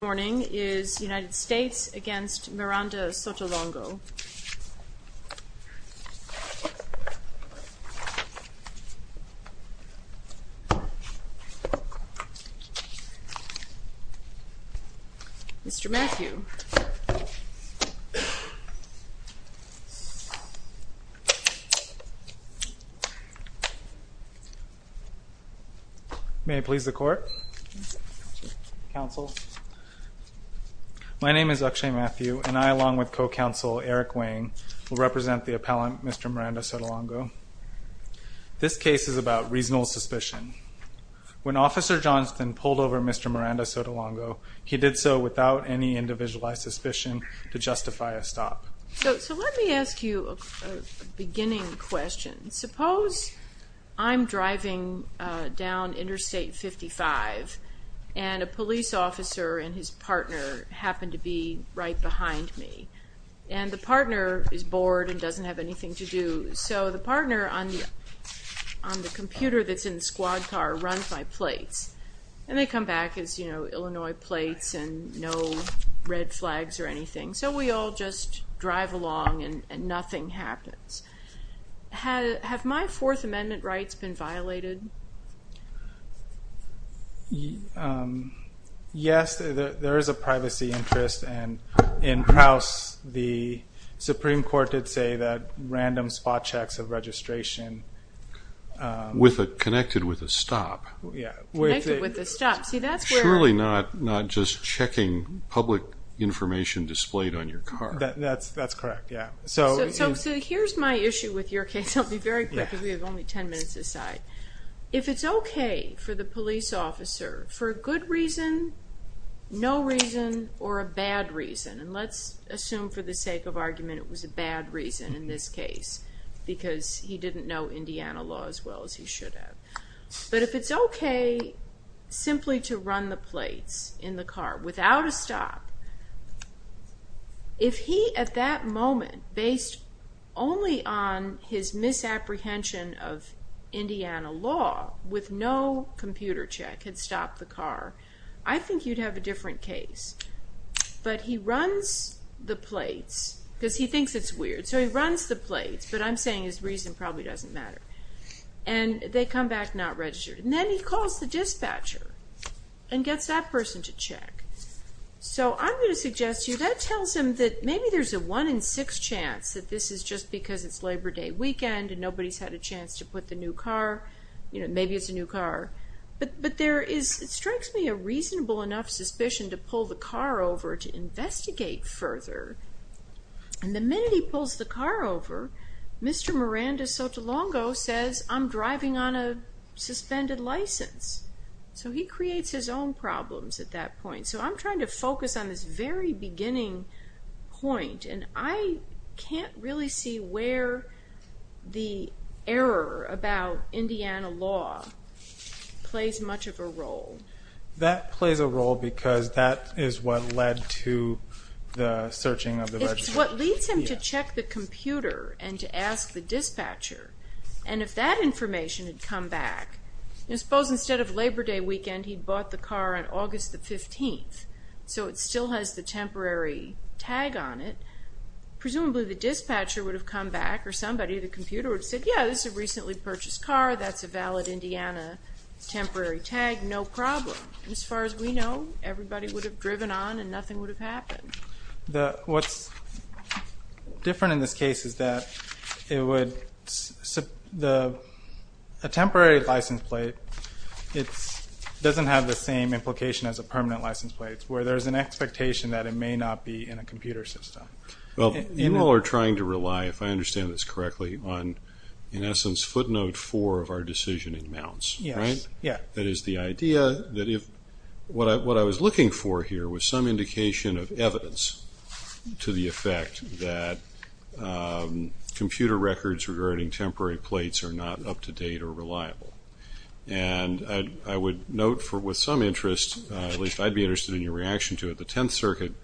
United States v. Miranda-Sotolongo My name is Akshay Matthew and I, along with co-counsel Eric Wang, will represent the appellant Mr. Miranda-Sotolongo. This case is about reasonable suspicion. When Officer Johnston pulled over Mr. Miranda-Sotolongo, he did so without any individualized suspicion to justify a stop. So let me ask you a beginning question. Suppose I'm driving down Interstate 55 and a police officer and his partner happen to be right behind me. And the partner is bored and doesn't have anything to do, so the partner on the computer that's in the squad car runs my plates. And they come back as, you know, Illinois plates and no red flags or anything. So we all just drive along and nothing happens. Have my Fourth Amendment rights been violated? Yes, there is a privacy interest. And in Kraus, the Supreme Court did say that random spot checks of registration With a, connected with a stop. Yeah, connected with a stop. See, that's where Surely not just checking public information displayed on your car. That's correct, yeah. So here's my issue with your case. I'll be very quick because we have only ten minutes to decide. If it's okay for the police officer, for a good reason, no reason, or a bad reason, And let's assume for the sake of argument it was a bad reason in this case, Because he didn't know Indiana law as well as he should have. But if it's okay simply to run the plates in the car without a stop, If he, at that moment, based only on his misapprehension of Indiana law, With no computer check, had stopped the car, I think you'd have a different case. But he runs the plates, because he thinks it's weird, So he runs the plates, but I'm saying his reason probably doesn't matter. And they come back not registered. And then he calls the dispatcher and gets that person to check. So I'm going to suggest to you, That tells him that maybe there's a one in six chance That this is just because it's Labor Day weekend, And nobody's had a chance to put the new car, You know, maybe it's a new car. But there is, it strikes me, a reasonable enough suspicion To pull the car over to investigate further. And the minute he pulls the car over, Mr. Miranda Sotolongo says, I'm driving on a suspended license. So he creates his own problems at that point. So I'm trying to focus on this very beginning point. And I can't really see where the error about Indiana law Plays much of a role. That plays a role because that is what led to The searching of the registration. It's what leads him to check the computer And to ask the dispatcher. And if that information had come back, Suppose instead of Labor Day weekend, He bought the car on August the 15th. So it still has the temporary tag on it. Presumably the dispatcher would have come back, Or somebody at the computer would have said, Yeah, this is a recently purchased car. That's a valid Indiana temporary tag. No problem. As far as we know, everybody would have driven on And nothing would have happened. What's different in this case is that A temporary license plate Doesn't have the same implication as a permanent License plate, where there's an expectation that It may not be in a computer system. Well, you all are trying to rely, If I understand this correctly, on, in essence, Footnote four of our decision in mounts. Yes. That is the idea that if what I was looking for here Was some indication of evidence to the effect that Computer records regarding temporary plates Are not up to date or reliable. And I would note, with some interest, At least I'd be interested in your reaction to it, The Tenth Circuit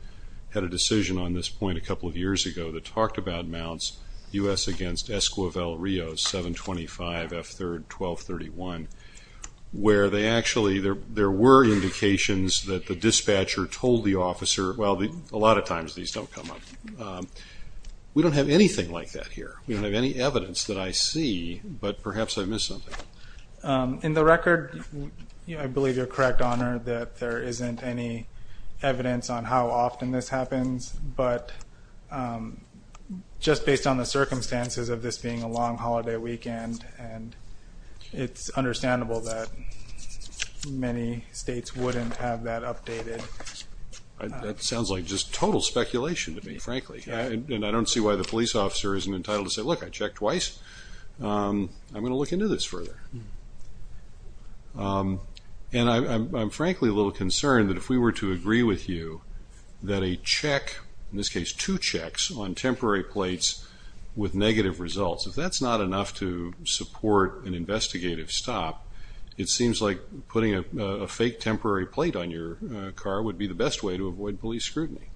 had a decision on this point A couple of years ago that talked about mounts, U.S. against Esquivel-Rios 725F3-1231, Where they actually, there were indications that The dispatcher told the officer, Well, a lot of times these don't come up. We don't have anything like that here. We don't have any evidence that I see, But perhaps I missed something. In the record, I believe you're correct, Honor, That there isn't any evidence on how often this happens, But just based on the circumstances of this being A long holiday weekend, It's understandable that many states Wouldn't have that updated. That sounds like just total speculation to me, frankly. And I don't see why the police officer isn't entitled to say, Look, I checked twice. I'm going to look into this further. And I'm frankly a little concerned that if we were to agree with you That a check, in this case two checks, On temporary plates with negative results, If that's not enough to support an investigative stop, It seems like putting a fake temporary plate on your car Would be the best way to avoid police scrutiny.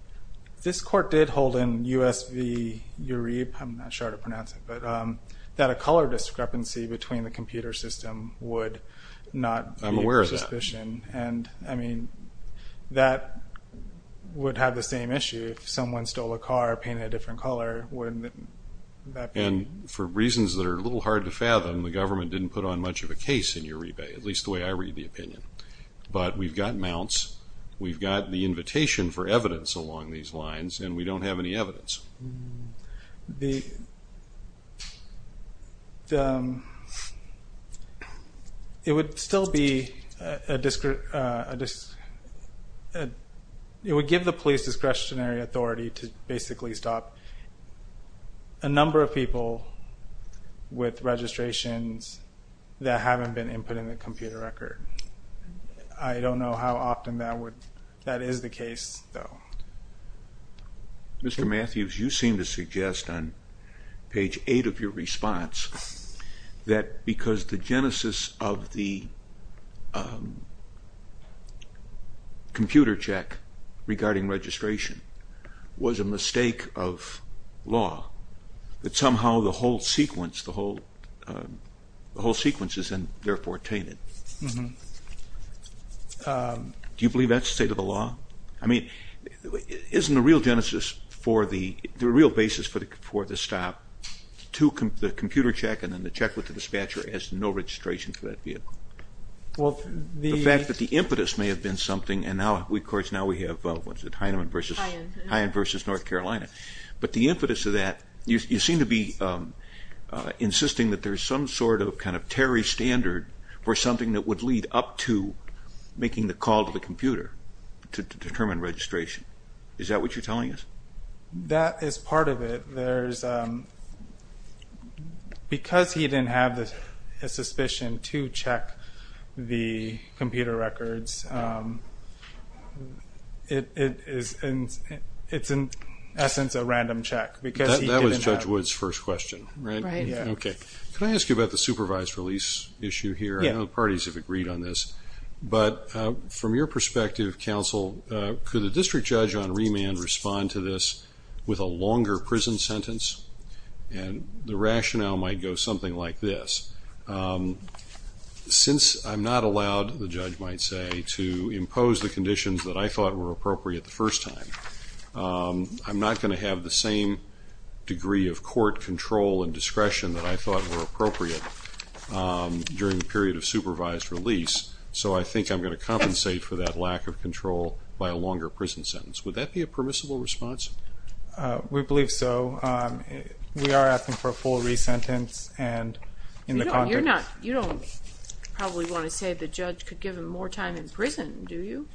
This court did hold in U.S. v. Uribe, I'm not sure how to pronounce it, That a color discrepancy between the computer system Would not be a suspicion. I'm aware of that. And that would have the same issue. If someone stole a car painted a different color, Wouldn't that be... And for reasons that are a little hard to fathom, The government didn't put on much of a case in Uribe, At least the way I read the opinion. But we've got mounts. We've got the invitation for evidence along these lines, And we don't have any evidence. It would still be... It would give the police discretionary authority To basically stop a number of people With registrations that haven't been input In the computer record. I don't know how often that would... That is the case, though. Mr. Matthews, you seem to suggest On page 8 of your response That because the genesis of the... Computer check regarding registration Was a mistake of law, That somehow the whole sequence... The whole sequence is therefore tainted. Mm-hmm. Do you believe that's state of the law? I mean, isn't the real genesis for the... The real basis for the stop To the computer check and then the check with the dispatcher As no registration for that vehicle? Well, the... The fact that the impetus may have been something, And now, of course, now we have, what's it, Heinemann v. North Carolina. But the impetus of that, you seem to be Insisting that there's some sort of kind of Preparatory standard for something that would lead up to Making the call to the computer To determine registration. Is that what you're telling us? That is part of it. There's... Because he didn't have the suspicion To check the computer records, It is... It's, in essence, a random check, Because he didn't have... That was Judge Wood's first question, right? Okay. Can I ask you about the supervised release issue here? Yeah. I know the parties have agreed on this, But from your perspective, counsel, Could the district judge on remand respond to this With a longer prison sentence? And the rationale might go something like this. Since I'm not allowed, the judge might say, To impose the conditions that I thought were appropriate the first time, I'm not going to have the same Degree of court control and discretion That I thought were appropriate During the period of supervised release, So I think I'm going to compensate for that lack of control By a longer prison sentence. Would that be a permissible response? We believe so. We are asking for a full re-sentence, And in the context... You don't probably want to say The judge could give him more time in prison, do you?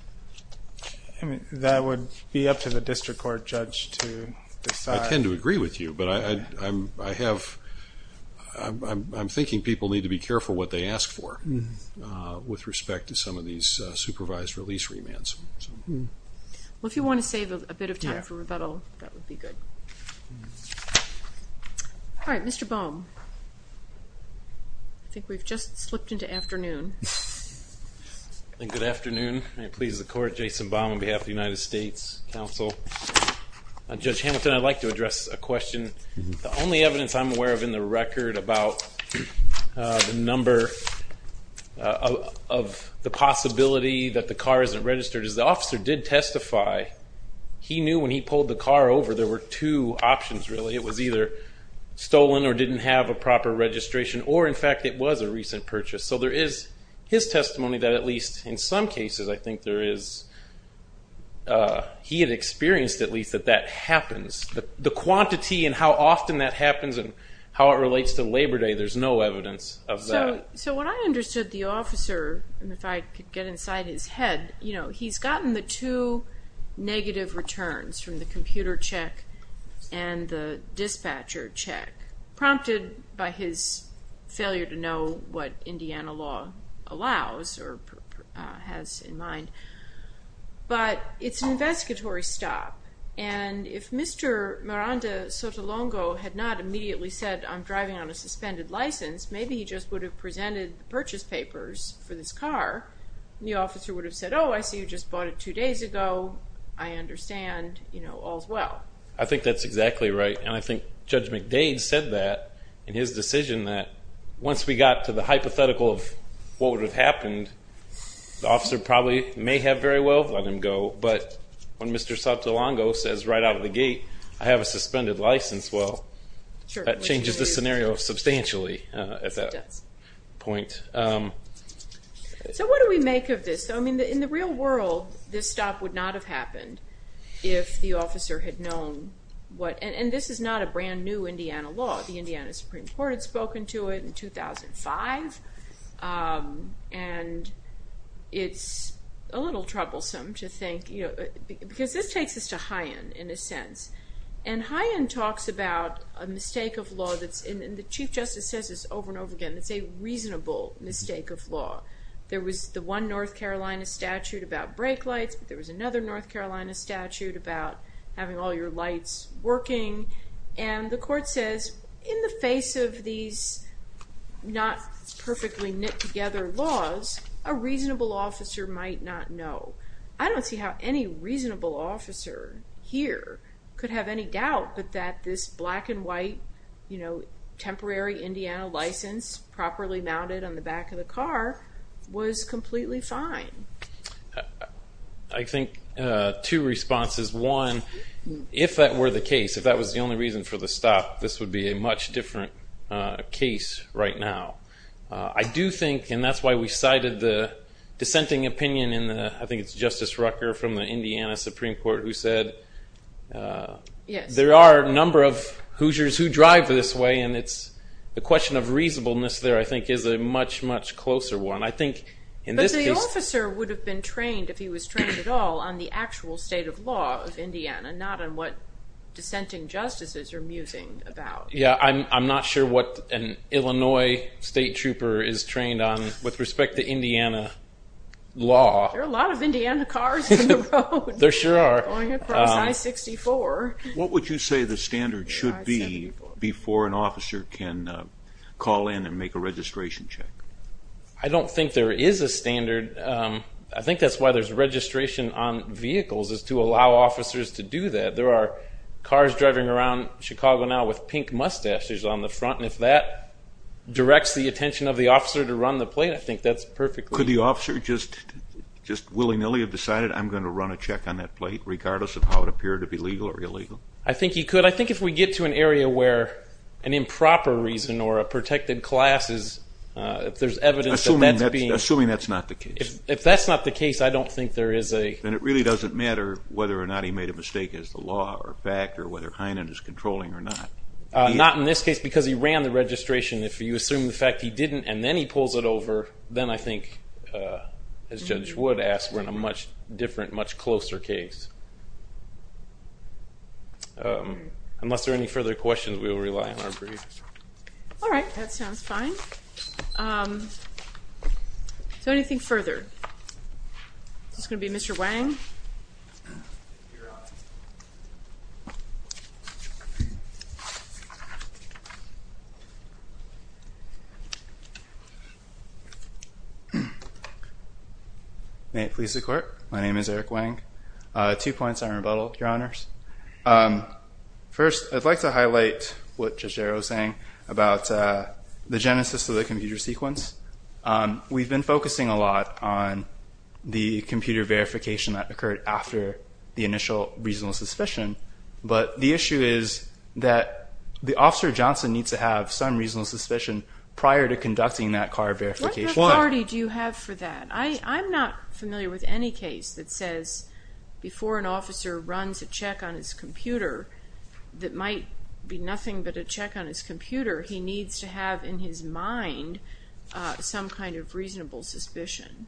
That would be up to the district court judge to decide. I tend to agree with you, but I have... I'm thinking people need to be careful what they ask for With respect to some of these supervised release remands. Well, if you want to save a bit of time for rebuttal, That would be good. All right, Mr. Baum. I think we've just slipped into afternoon. Good afternoon. May it please the court, Jason Baum on behalf of the United States Council. Judge Hamilton, I'd like to address a question. The only evidence I'm aware of in the record About the number... Of the possibility that the car isn't registered Is the officer did testify He knew when he pulled the car over There were two options, really. It was either stolen or didn't have a proper registration Or, in fact, it was a recent purchase. So there is his testimony that at least in some cases I think there is... He had experienced at least that that happens. The quantity and how often that happens And how it relates to Labor Day, There's no evidence of that. So what I understood the officer, And if I could get inside his head, He's gotten the two negative returns From the computer check and the dispatcher check Prompted by his failure to know What Indiana law allows or has in mind. But it's an investigatory stop. And if Mr. Miranda Sotolongo Had not immediately said, I'm driving on a suspended license, Maybe he just would have presented The purchase papers for this car. And the officer would have said, Oh, I see you just bought it two days ago. I understand, you know, all's well. I think that's exactly right. And I think Judge McDade said that In his decision that once we got to the hypothetical Of what would have happened, The officer probably may have very well let him go. But when Mr. Sotolongo says right out of the gate, I have a suspended license, Well, that changes the scenario substantially At that point. So what do we make of this? I mean, in the real world, This stop would not have happened If the officer had known what... And this is not a brand new Indiana law. The Indiana Supreme Court had spoken to it in 2005. And it's a little troublesome to think... Because this takes us to Hyen, in a sense. And Hyen talks about a mistake of law that's... And the Chief Justice says this over and over again. It's a reasonable mistake of law. There was the one North Carolina statute about brake lights. There was another North Carolina statute About having all your lights working. And the court says, In the face of these not-perfectly-knit-together laws, A reasonable officer might not know. I don't see how any reasonable officer here Could have any doubt that this black-and-white, You know, temporary Indiana license Properly mounted on the back of the car Was completely fine. I think two responses. One, if that were the case, If that was the only reason for the stop, This would be a much different case right now. I do think, and that's why we cited the dissenting opinion, I think it's Justice Rucker from the Indiana Supreme Court Who said, There are a number of Hoosiers who drive this way, And the question of reasonableness there, I think, Is a much, much closer one. But the officer would have been trained, If he was trained at all, On the actual state of law of Indiana, And not on what dissenting justices are musing about. Yeah, I'm not sure what an Illinois state trooper Is trained on with respect to Indiana law. There are a lot of Indiana cars on the road. There sure are. Going across I-64. What would you say the standard should be Before an officer can call in and make a registration check? I don't think there is a standard. I think that's why there's registration on vehicles, Is to allow officers to do that. There are cars driving around Chicago now With pink mustaches on the front, And if that directs the attention of the officer to run the plate, I think that's perfectly... Could the officer just willy-nilly have decided, I'm going to run a check on that plate, Regardless of how it appeared to be legal or illegal? I think he could. I think if we get to an area where an improper reason Or a protected class is, If there's evidence that that's being... Assuming that's not the case. If that's not the case, I don't think there is a... Then it really doesn't matter whether or not he made a mistake As the law or fact, Or whether Heinen is controlling or not. Not in this case, because he ran the registration. If you assume the fact he didn't and then he pulls it over, Then I think, as Judge Wood asked, We're in a much different, much closer case. Unless there are any further questions, We will rely on our briefs. All right, that sounds fine. So anything further? This is going to be Mr. Wang. May it please the Court. My name is Eric Wang. Two points on rebuttal, Your Honors. First, I'd like to highlight what Judge Arrow was saying About the genesis of the computer sequence. We've been focusing a lot on the computer verification That occurred after the initial reasonable suspicion. But the issue is that the officer, Johnson, Needs to have some reasonable suspicion Prior to conducting that car verification. What authority do you have for that? I'm not familiar with any case that says Before an officer runs a check on his computer That might be nothing but a check on his computer. He needs to have in his mind Some kind of reasonable suspicion.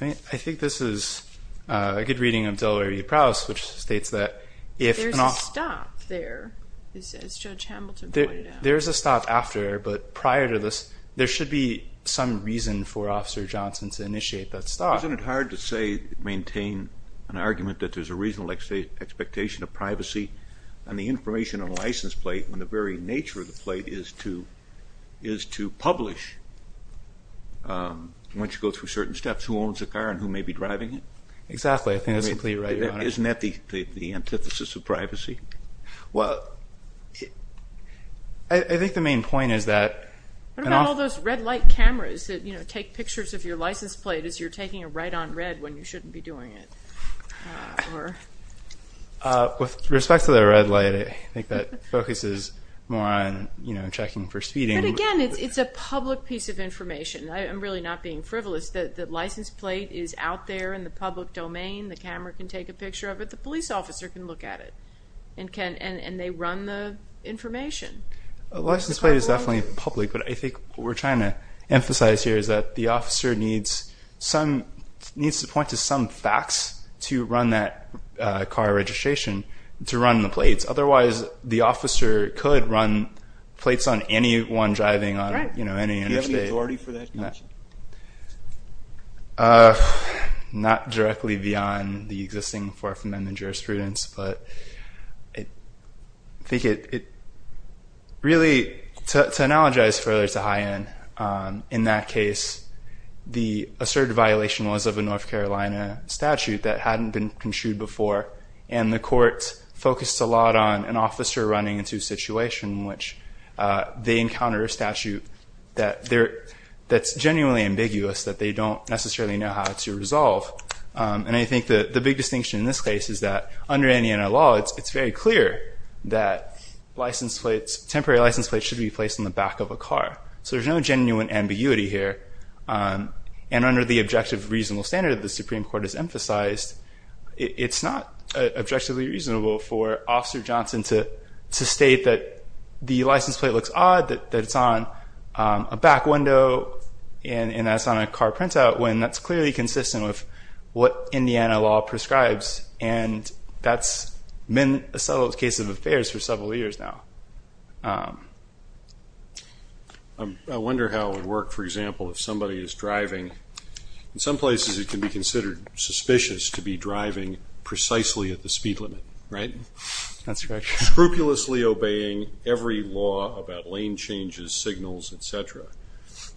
I think this is a good reading of Delaware v. Prowse, Which states that if an officer... There's a stop there, as Judge Hamilton pointed out. There is a stop after, but prior to this, There should be some reason for Officer Johnson To initiate that stop. Isn't it hard to maintain an argument That there's a reasonable expectation of privacy On the information on a license plate When the very nature of the plate Is to publish, once you go through certain steps, Who owns the car and who may be driving it? Exactly. I think that's completely right, Your Honor. Isn't that the antithesis of privacy? Well, I think the main point is that... What about all those red light cameras That take pictures of your license plate As you're taking a right on red When you shouldn't be doing it? With respect to the red light, I think that focuses more on checking for speeding. But again, it's a public piece of information. I'm really not being frivolous. The license plate is out there in the public domain. The camera can take a picture of it. The police officer can look at it. And they run the information. A license plate is definitely public, But I think what we're trying to emphasize here Is that the officer needs to point to some facts To run that car registration, to run the plates. Otherwise, the officer could run plates On anyone driving on any interstate. Do you have the authority for that? Not directly beyond the existing Fourth Amendment jurisprudence. Really, to analogize further to High End, In that case, the asserted violation Was of a North Carolina statute That hadn't been construed before. And the court focused a lot on An officer running into a situation In which they encounter a statute That's genuinely ambiguous, That they don't necessarily know how to resolve. And I think the big distinction in this case Is that under any law, it's very clear That temporary license plates Should be placed on the back of a car. So there's no genuine ambiguity here. And under the objective reasonable standard That the Supreme Court has emphasized, It's not objectively reasonable For Officer Johnson to state That the license plate looks odd, That it's on a back window, And that it's on a car printout, When that's clearly consistent With what Indiana law prescribes. And that's been a subtle case of affairs For several years now. I wonder how it would work, for example, If somebody is driving. In some places, it can be considered suspicious To be driving precisely at the speed limit. Right? That's correct. Scrupulously obeying every law About lane changes, signals, etc.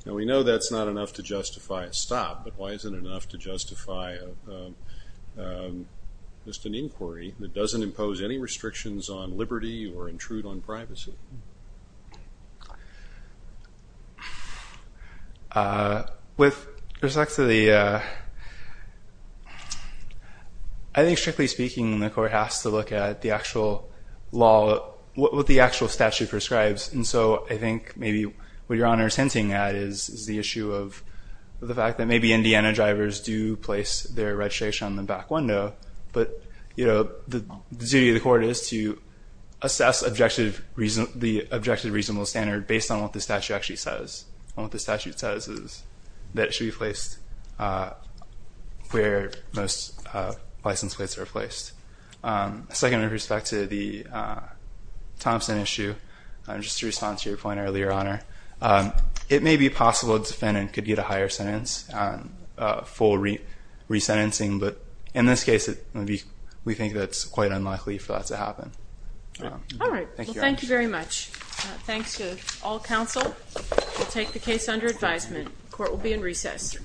Now we know that's not enough to justify a stop, But why isn't it enough to justify Just an inquiry that doesn't impose Any restrictions on liberty Or intrude on privacy? With respect to the... I think, strictly speaking, The court has to look at the actual law, What the actual statute prescribes. And so I think maybe what Your Honor is hinting at Is the issue of the fact that maybe Indiana drivers Do place their registration on the back window. But, you know, the duty of the court Is to assess the objective reasonable standard Based on what the statute actually says. And what the statute says is that it should be placed Where most license plates are placed. Second, with respect to the Thompson issue, Just to respond to your point earlier, Your Honor, It may be possible a defendant could get a higher sentence On full resentencing, But in this case, we think that's quite unlikely For that to happen. All right. Well, thank you very much. Thanks to all counsel. We'll take the case under advisement. Court will be in recess.